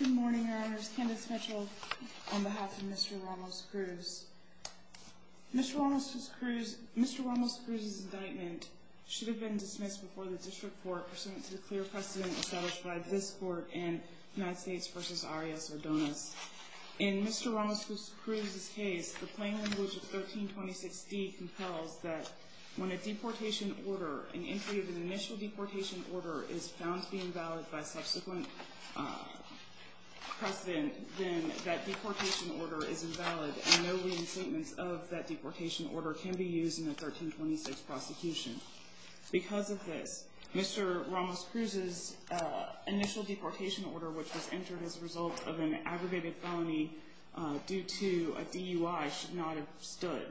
Good morning, Your Honors. Candace Mitchell on behalf of Mr. Ramos-Cruz. Mr. Ramos-Cruz's indictment should have been dismissed before the District Court pursuant to the clear precedent established by this Court in United States v. Arias-Odonis. In Mr. Ramos-Cruz's case, the plain language of 1326d compels that when an entry of an initial deportation order is found to be invalid by subsequent precedent, then that deportation order is invalid and no lien statements of that deportation order can be used in a 1326 prosecution. Because of this, Mr. Ramos-Cruz's initial deportation order, which was entered as a result of an aggravated felony due to a DUI, should not have stood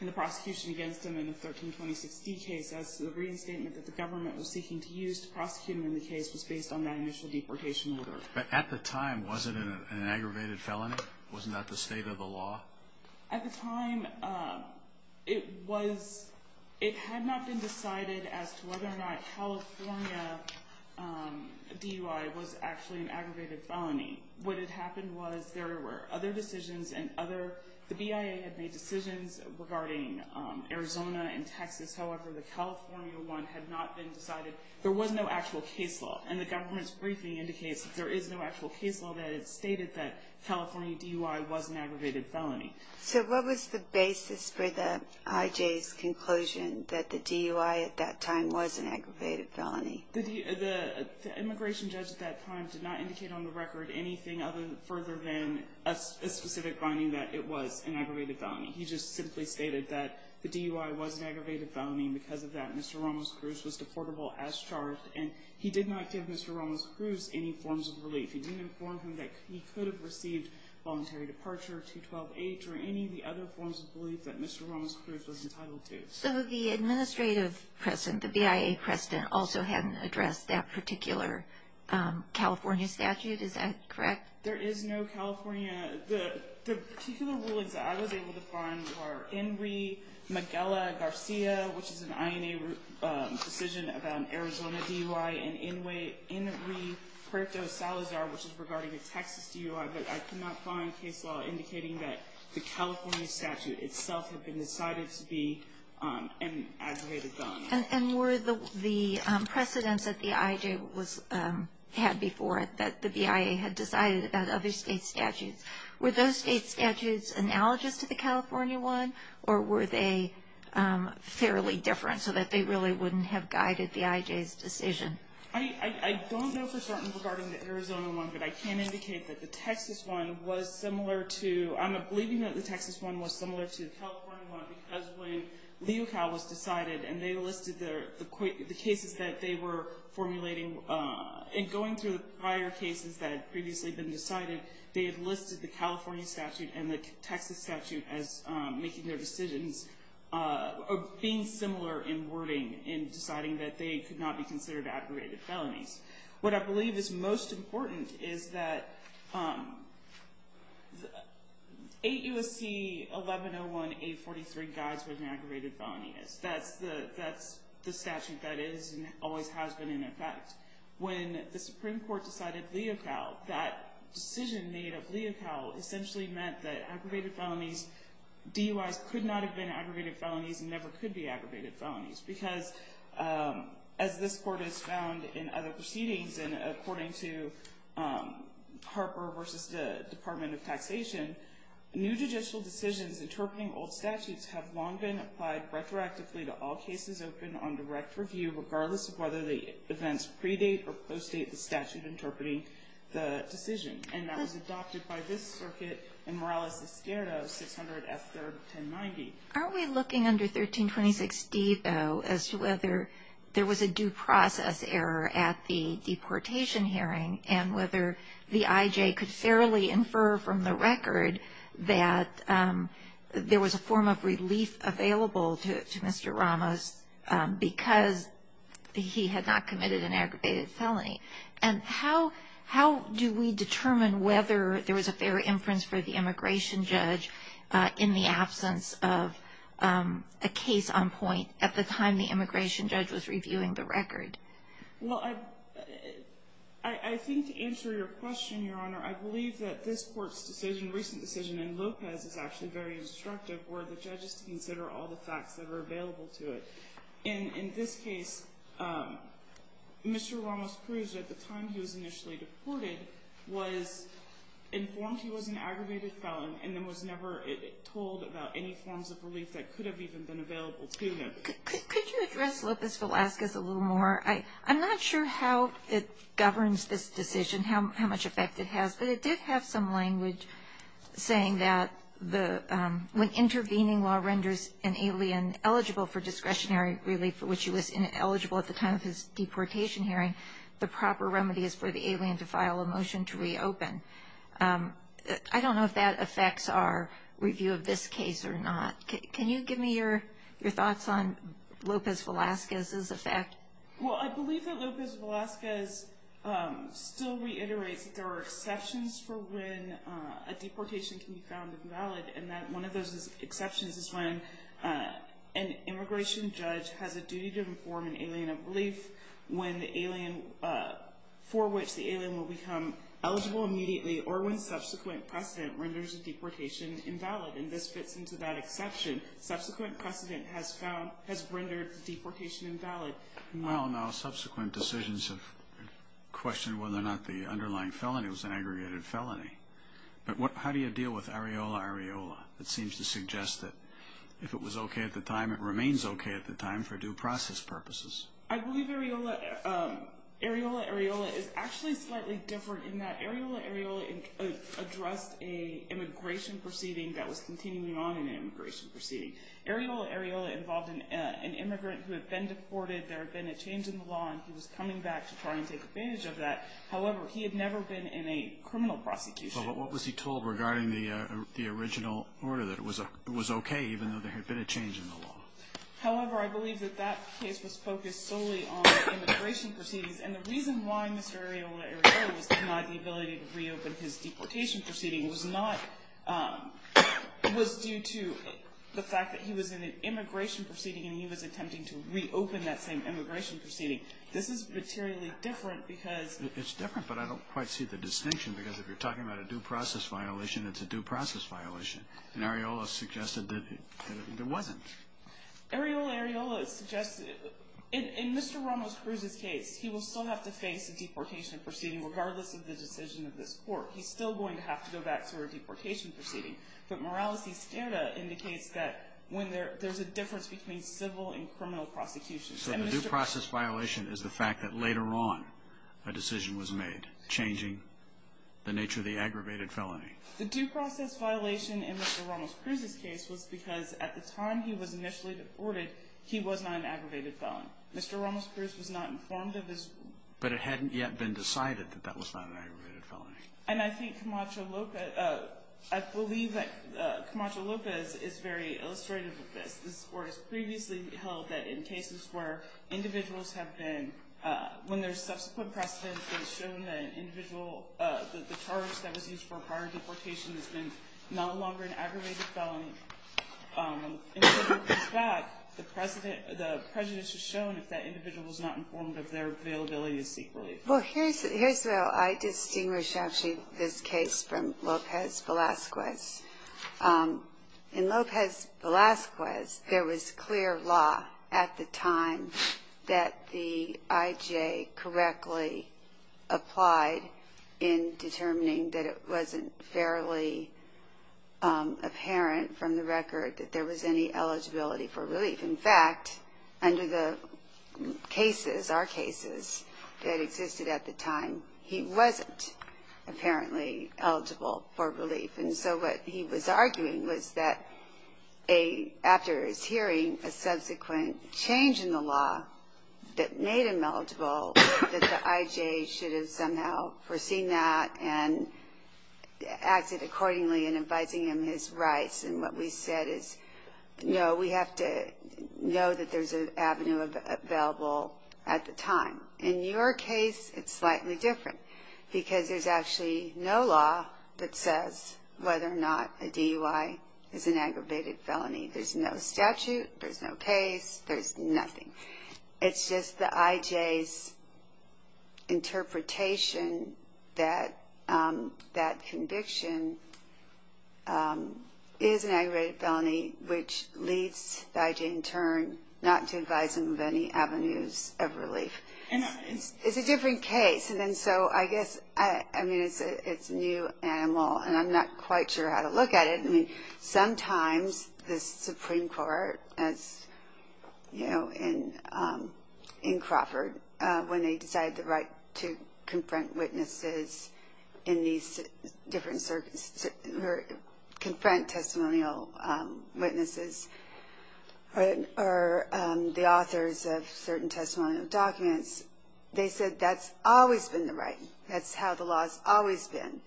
in the prosecution against him in the 1326d case as the lien statement that the government was seeking to use to prosecute him in the case was based on that initial deportation order. At the time, was it an aggravated felony? Wasn't that the state of the law? At the time, it was, it had not been decided as to whether or not California DUI was actually an aggravated felony. What had happened was there were other decisions and other, the BIA had made decisions regarding Arizona and Texas. However, the California one had not been decided. There was no actual case law, and the government's briefing indicates that there is no actual case law that stated that California DUI was an aggravated felony. So what was the basis for the IJ's conclusion that the DUI at that time was an aggravated felony? The immigration judge at that time did not indicate on the record anything other than, further than a specific finding that it was an aggravated felony. He just simply stated that the DUI was an aggravated felony. Because of that, Mr. Ramos-Cruz was deportable as charged, and he did not give Mr. Ramos-Cruz any forms of relief. He didn't inform him that he could have received voluntary departure, 212-H, or any of the other forms of relief that Mr. Ramos-Cruz was entitled to. So the administrative precedent, the BIA precedent, also hadn't addressed that particular California statute, is that correct? There is no California. The particular rulings that I was able to find were INRI, Magella-Garcia, which is an INA decision about an Arizona DUI, and INRI-Puerto Salazar, which is regarding a Texas DUI, but I could not find case law indicating that the California statute itself had been decided to be an aggravated felony. And were the precedents that the IJ had before it, that the BIA had decided about other state statutes, were those state statutes analogous to the California one, or were they fairly different, so that they really wouldn't have guided the IJ's decision? I don't know for certain regarding the Arizona one, but I can indicate that the Texas one was similar to, I'm not believing that the Texas one was similar to the California one, because when Leocal was decided, and they listed the cases that they were formulating, and going through the prior cases that had previously been decided, they had listed the California statute and the Texas statute as making their decisions, or being similar in wording, in deciding that they could not be considered aggravated felonies. What I believe is most important is that 8 U.S.C. 1101-843 guides what an aggravated felony is. That's the statute that is and always has been in effect. When the Supreme Court decided Leocal, that decision made of Leocal essentially meant that aggravated felonies, DUIs could not have been aggravated felonies and never could be aggravated felonies, because as this court has found in other proceedings, and according to Harper v. Department of Taxation, new judicial decisions interpreting old statutes have long been applied retroactively to all cases open on direct review, regardless of whether the events predate or postdate the statute interpreting the decision. And that was adopted by this circuit in Morales Esquerra, 600 F. 3rd, 1090. Aren't we looking under 1326D, though, as to whether there was a due process error at the deportation hearing and whether the I.J. could fairly infer from the record that there was a form of relief available to Mr. Ramos because he had not committed an aggravated felony? And how do we determine whether there was a fair inference for the immigration judge in the absence of a case on point at the time the immigration judge was reviewing the record? Well, I think to answer your question, Your Honor, I believe that this Court's decision, recent decision in Lopez, is actually very instructive for the judges to consider all the facts that are available to it. In this case, Mr. Ramos proves at the time he was initially deported was informed he was an aggravated felon and then was never told about any forms of relief that could have even been available to him. Could you address Lopez Velazquez a little more? I'm not sure how it governs this decision, how much effect it has, but it did have some language saying that when intervening law renders an alien eligible for discretionary relief, for which he was ineligible at the time of his deportation hearing, the proper remedy is for the alien to file a motion to reopen. I don't know if that affects our review of this case or not. Can you give me your thoughts on Lopez Velazquez's effect? Well, I believe that Lopez Velazquez still reiterates that there are exceptions for when a deportation can be found invalid, and that one of those exceptions is when an immigration judge has a duty to inform an alien of relief, for which the alien will become eligible immediately, or when subsequent precedent renders a deportation invalid. And this fits into that exception. Subsequent precedent has rendered the deportation invalid. Well, now, subsequent decisions have questioned whether or not the underlying felony was an aggregated felony. But how do you deal with areola areola? It seems to suggest that if it was okay at the time, it remains okay at the time for due process purposes. I believe areola areola is actually slightly different in that areola areola addressed an immigration proceeding that was continuing on an immigration proceeding. Areola areola involved an immigrant who had been deported. There had been a change in the law, and he was coming back to try and take advantage of that. However, he had never been in a criminal prosecution. Well, but what was he told regarding the original order that it was okay even though there had been a change in the law? However, I believe that that case was focused solely on immigration proceedings, and the reason why Mr. Areola areola was denied the ability to reopen his deportation proceeding was not was due to the fact that he was in an immigration proceeding, and he was attempting to reopen that same immigration proceeding. This is materially different because It's different, but I don't quite see the distinction. Because if you're talking about a due process violation, it's a due process violation. And areola suggested that it wasn't. Areola areola suggested, in Mr. Ramos-Cruz's case, he will still have to face a deportation proceeding regardless of the decision of this court. He's still going to have to go back to a deportation proceeding. But Morales-Izquierda indicates that there's a difference between civil and criminal prosecution. So the due process violation is the fact that later on a decision was made changing the nature of the aggravated felony. The due process violation in Mr. Ramos-Cruz's case was because at the time he was initially deported, he was not an aggravated felon. Mr. Ramos-Cruz was not informed of his But it hadn't yet been decided that that was not an aggravated felony. And I think Camacho Lopez, I believe that Camacho Lopez is very illustrative of this. This court has previously held that in cases where individuals have been, when their subsequent precedence has shown that an individual, that the charge that was used for prior deportation has been no longer an aggravated felony, and so when it comes back, the precedent, the prejudice is shown if that individual is not informed of their availability to seek relief. Well, here's where I distinguish, actually, this case from Lopez-Velasquez. In Lopez-Velasquez, there was clear law at the time that the I.J. correctly applied in determining that it wasn't fairly apparent from the record that there was any eligibility for relief. In fact, under the cases, our cases, that existed at the time, he wasn't apparently eligible for relief. And so what he was arguing was that after his hearing, a subsequent change in the law that made him eligible, that the I.J. should have somehow foreseen that and acted accordingly in advising him his rights. And what we said is, no, we have to know that there's an avenue available at the time. In your case, it's slightly different, because there's actually no law that says whether or not a DUI is an aggravated felony. There's no statute, there's no case, there's nothing. It's just the I.J.'s interpretation that that conviction is an aggravated felony, which leads the I.J. in turn not to advise him of any avenues of relief. It's a different case, and so I guess it's a new animal, and I'm not quite sure how to look at it. Sometimes the Supreme Court, as in Crawford, when they decided the right to confront witnesses in these different circumstances, to confront testimonial witnesses or the authors of certain testimonial documents, they said that's always been the right. That's how the law's always been.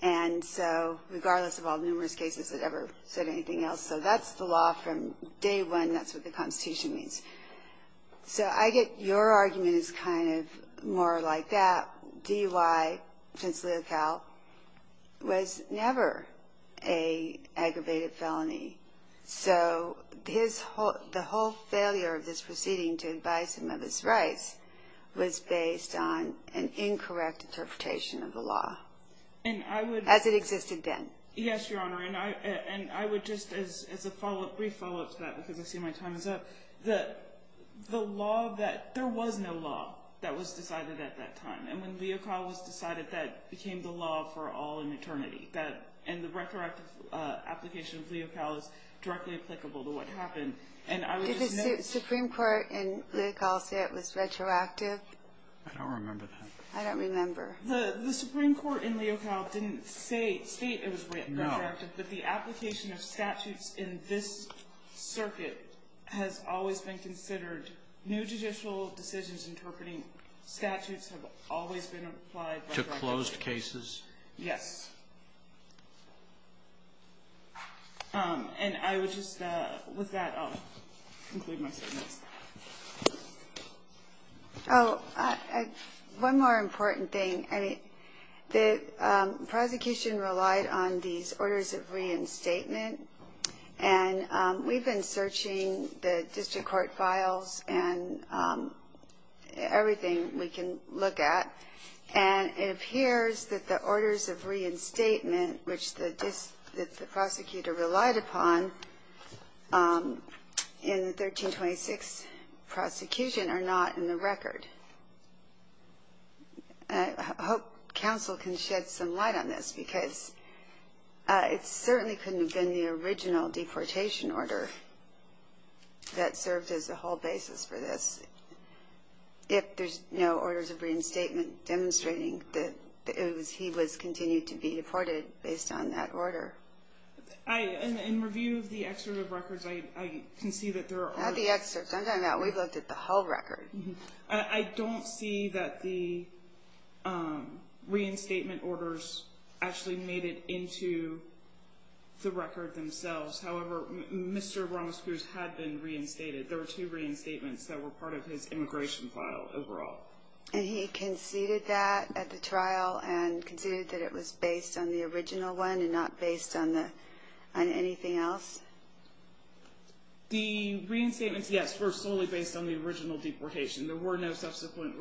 And so regardless of all the numerous cases that ever said anything else, so that's the law from day one, that's what the Constitution means. So I get your argument is kind of more like that. DUI, since Leocal, was never an aggravated felony. So the whole failure of this proceeding to advise him of his rights was based on an incorrect interpretation of the law. As it existed then. Yes, Your Honor, and I would just as a follow-up, brief follow-up to that, because I see my time is up. The law that, there was no law that was decided at that time, and when Leocal was decided, that became the law for all in eternity. And the retroactive application of Leocal is directly applicable to what happened. Did the Supreme Court in Leocal say it was retroactive? I don't remember that. I don't remember. The Supreme Court in Leocal didn't say, state it was retroactive. No. But the application of statutes in this circuit has always been considered. New judicial decisions interpreting statutes have always been applied retroactively. To closed cases? Yes. And I would just, with that, I'll conclude my statements. Oh, one more important thing. The prosecution relied on these orders of reinstatement. And we've been searching the district court files and everything we can look at. And it appears that the orders of reinstatement, which the prosecutor relied upon in the 1326 prosecution, are not in the record. I hope counsel can shed some light on this, because it certainly couldn't have been the original deportation order that served as a whole basis for this. If there's no orders of reinstatement demonstrating that he was continued to be deported based on that order. In review of the excerpt of records, I can see that there are orders. Not the excerpts. I'm talking about we've looked at the whole record. I don't see that the reinstatement orders actually made it into the record themselves. However, Mr. Ramos Cruz had been reinstated. There were two reinstatements that were part of his immigration file overall. And he conceded that at the trial and conceded that it was based on the original one and not based on anything else? The reinstatements, yes, were solely based on the original deportation. There were no subsequent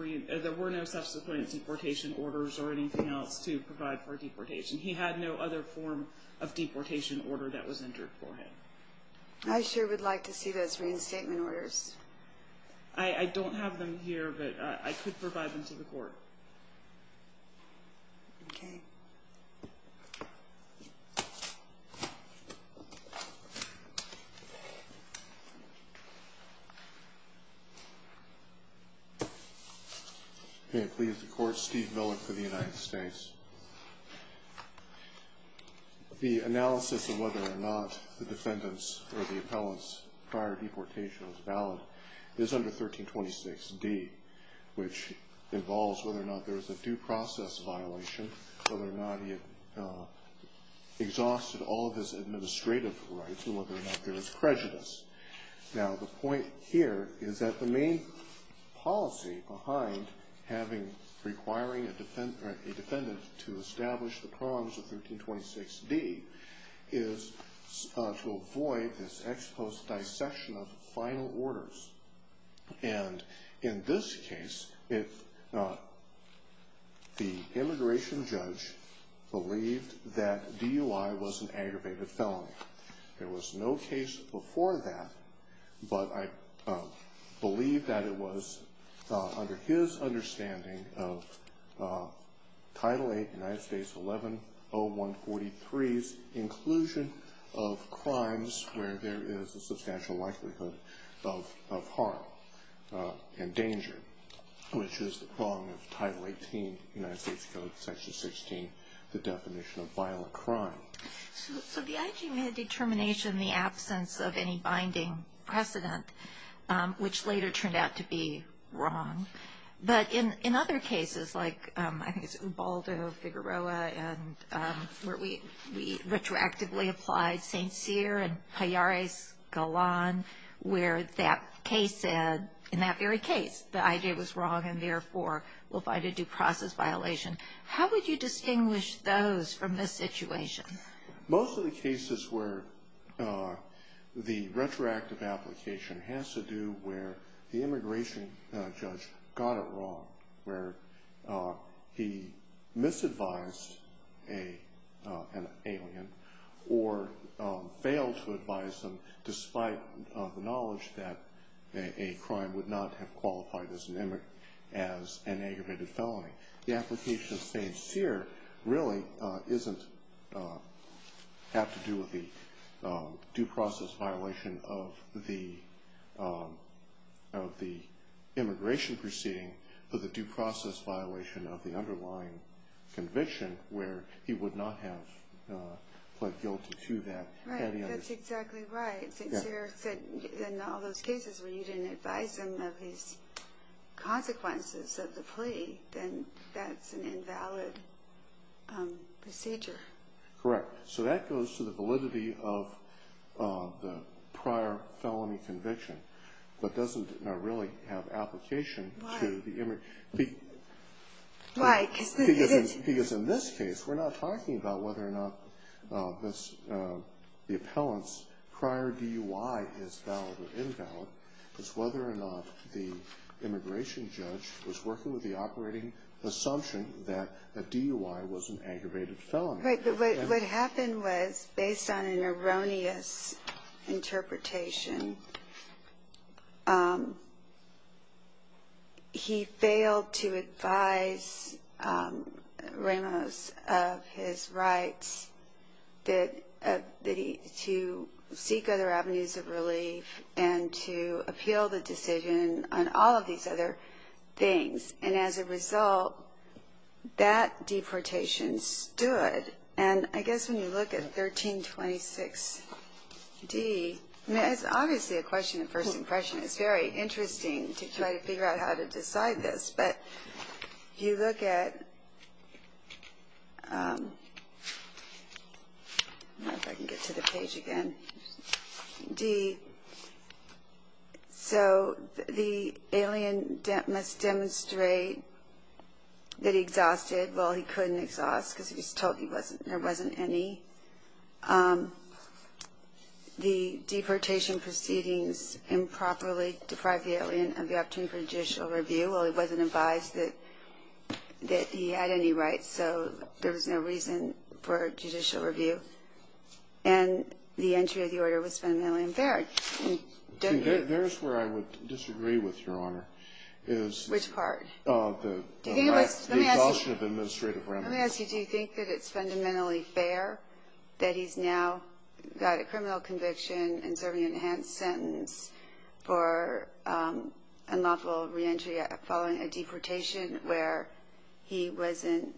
deportation orders or anything else to provide for deportation. He had no other form of deportation order that was entered for him. I sure would like to see those reinstatement orders. I don't have them here, but I could provide them to the court. Okay. May it please the Court. Steve Millick for the United States. The analysis of whether or not the defendant's or the appellant's prior deportation was valid is under 1326d, which involves whether or not there was a due process violation, whether or not he had exhausted all of his administrative rights, and whether or not there was prejudice. Now, the point here is that the main policy behind requiring a defendant to establish the prongs of 1326d is to avoid this ex post dissection of final orders. And in this case, the immigration judge believed that DUI was an aggravated felony. There was no case before that, but I believe that it was under his understanding of Title 8, United States 11-0143's inclusion of crimes where there is a substantial likelihood of harm and danger, which is the prong of Title 18, United States Code Section 16, the definition of violent crime. So the IG made a determination in the absence of any binding precedent, which later turned out to be wrong. But in other cases, like I think it's Ubaldo, Figueroa, and where we retroactively applied St. Cyr and Pallares Galan, where that case said, in that very case, the IG was wrong and, therefore, will find a due process violation. How would you distinguish those from this situation? Most of the cases where the retroactive application has to do where the immigration judge got it wrong, where he misadvised an alien or failed to advise them, despite the knowledge that a crime would not have qualified as an aggravated felony. The application of St. Cyr really doesn't have to do with the due process violation of the immigration proceeding, but the due process violation of the underlying conviction where he would not have pled guilty to that. Right, that's exactly right. St. Cyr said in all those cases where you didn't advise them of his consequences of the plea, then that's an invalid procedure. Correct. So that goes to the validity of the prior felony conviction, but doesn't really have application to the immigration. Why? Because in this case, we're not talking about whether or not the appellant's prior DUI is valid or invalid. It's whether or not the immigration judge was working with the operating assumption that the DUI was an aggravated felony. Right, but what happened was, based on an erroneous interpretation, he failed to advise Ramos of his rights to seek other avenues of relief and to appeal the decision on all of these other things. And as a result, that deportation stood. And I guess when you look at 1326D, I mean, it's obviously a question of first impression. It's very interesting to try to figure out how to decide this. But you look at, I don't know if I can get to the page again, D. So the alien must demonstrate that he exhausted. Well, he couldn't exhaust because he was told there wasn't any. The deportation proceedings improperly deprived the alien of the opportunity for judicial review. Well, it wasn't advised that he had any rights, so there was no reason for judicial review. And the entry of the order was fundamentally unfair. There's where I would disagree with, Your Honor. Which part? The exhaustion of administrative remedies. Let me ask you, do you think that it's fundamentally fair that he's now got a criminal conviction and serving an enhanced sentence for unlawful reentry following a deportation where he wasn't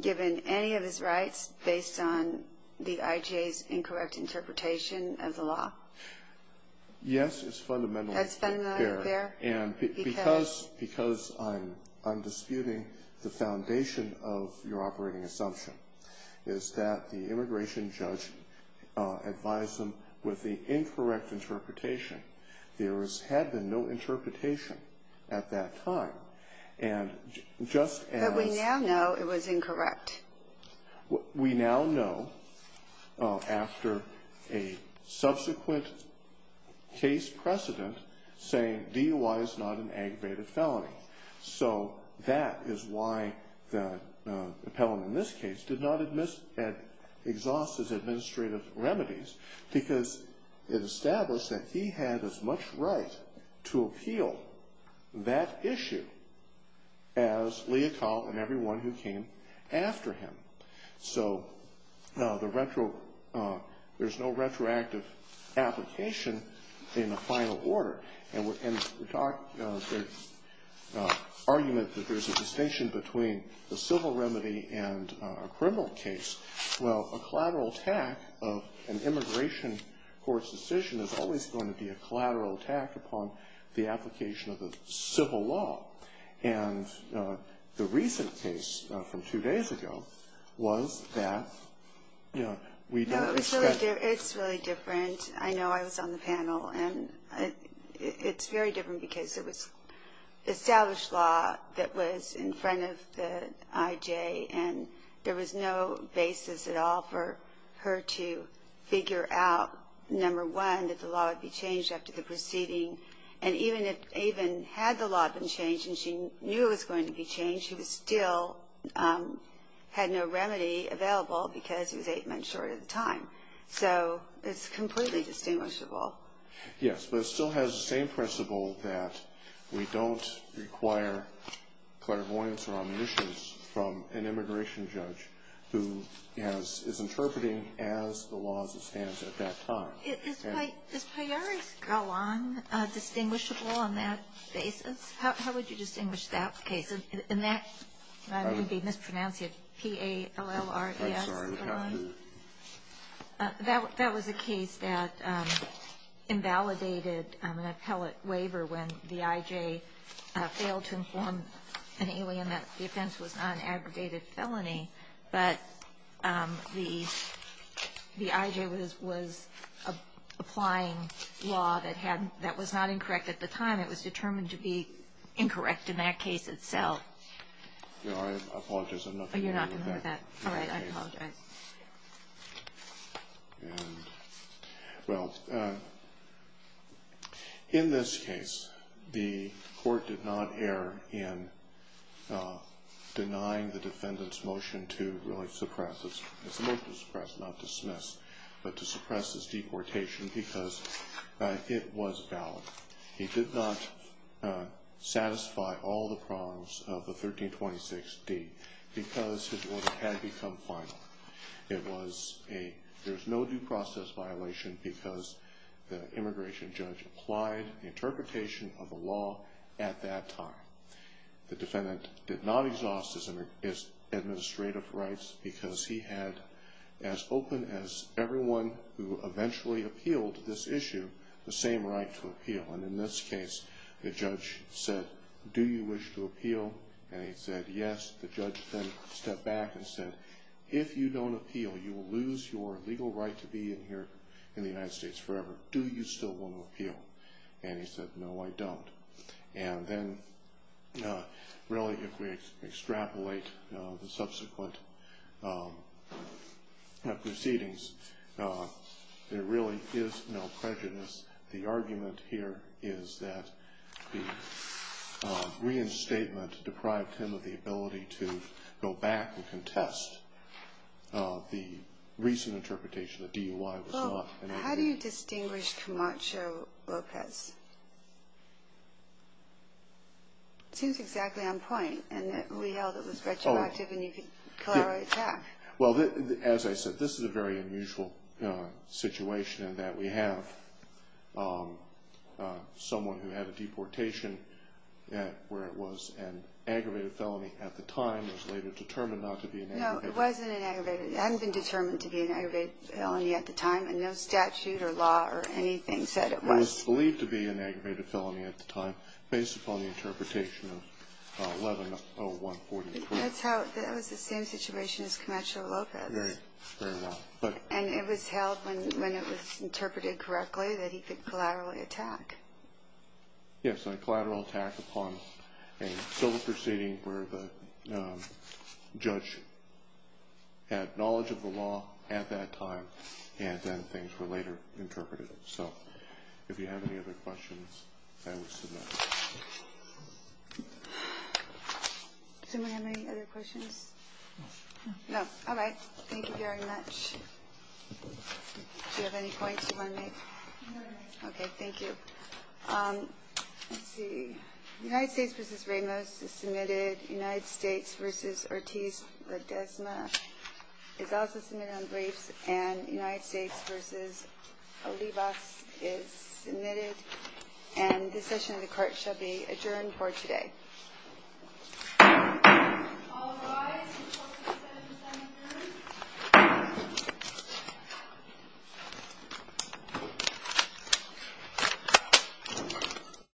given any of his rights based on the IJA's incorrect interpretation of the law? Yes, it's fundamentally fair. And because I'm disputing the foundation of your operating assumption, is that the immigration judge advised him with the incorrect interpretation. There had been no interpretation at that time. But we now know it was incorrect. We now know after a subsequent case precedent saying DUI is not an aggravated felony. So that is why the appellant in this case did not exhaust his administrative remedies because it established that he had as much right to appeal that issue as Leocal and everyone who came after him. So there's no retroactive application in the final order. And the argument that there's a distinction between a civil remedy and a criminal case, well, a collateral attack of an immigration court's decision is always going to be a collateral attack upon the application of the civil law. And the recent case from two days ago was that we don't expect. No, it's really different. I know I was on the panel. And it's very different because it was established law that was in front of the IJA. And there was no basis at all for her to figure out, number one, that the law would be changed after the proceeding. And even had the law been changed and she knew it was going to be changed, she still had no remedy available because he was eight months short of the time. So it's completely distinguishable. Yes, but it still has the same principle that we don't require clairvoyance or omniscience from an immigration judge who is interpreting as the law stands at that time. Okay. Is Payaris-Gallon distinguishable on that basis? How would you distinguish that case? And that would be mispronounced, P-A-L-L-R-E-S-Gallon. I'm sorry. That was a case that invalidated an appellate waiver when the IJA failed to inform an alien that the offense was not an aggregated felony. But the IJA was applying law that was not incorrect at the time. It was determined to be incorrect in that case itself. I apologize. You're not going to hear that? All right. I apologize. Well, in this case, the court did not err in denying the defendant's motion to really suppress, it's a motion to suppress, not dismiss, but to suppress his deportation because it was valid. He did not satisfy all the prongs of the 1326D because his order had become final. It was a, there's no due process violation because the immigration judge applied the interpretation of the law at that time. The defendant did not exhaust his administrative rights because he had, as open as everyone who eventually appealed this issue, the same right to appeal. And in this case, the judge said, do you wish to appeal? And he said, yes. The judge then stepped back and said, if you don't appeal, you will lose your legal right to be in here in the United States forever. Do you still want to appeal? And he said, no, I don't. And then, really, if we extrapolate the subsequent proceedings, there really is no prejudice. The argument here is that the reinstatement deprived him of the ability to go back and contest the recent interpretation that DUI was not an issue. How do you distinguish Camacho-Lopez? It seems exactly on point in that we held it was retroactive and you could call it an attack. Well, as I said, this is a very unusual situation in that we have someone who had a deportation where it was an aggravated felony at the time. It was later determined not to be an aggravated. No, it wasn't an aggravated. It hadn't been determined to be an aggravated felony at the time, and no statute or law or anything said it was. It was believed to be an aggravated felony at the time, based upon the interpretation of 11-01-42. That was the same situation as Camacho-Lopez. Right. Very well. And it was held, when it was interpreted correctly, that he could collaterally attack. Yes, a collateral attack upon a civil proceeding where the judge had knowledge of the law at that time, and then things were later interpreted. So if you have any other questions, I would submit them. Does anyone have any other questions? No. No. All right. Thank you very much. Do you have any points you want to make? No. Okay. Thank you. Let's see. United States v. Ramos is submitted. United States v. Ortiz-Ledezma is also submitted on briefs. And United States v. Olivas is submitted. And this session of the court shall be adjourned for today. All rise.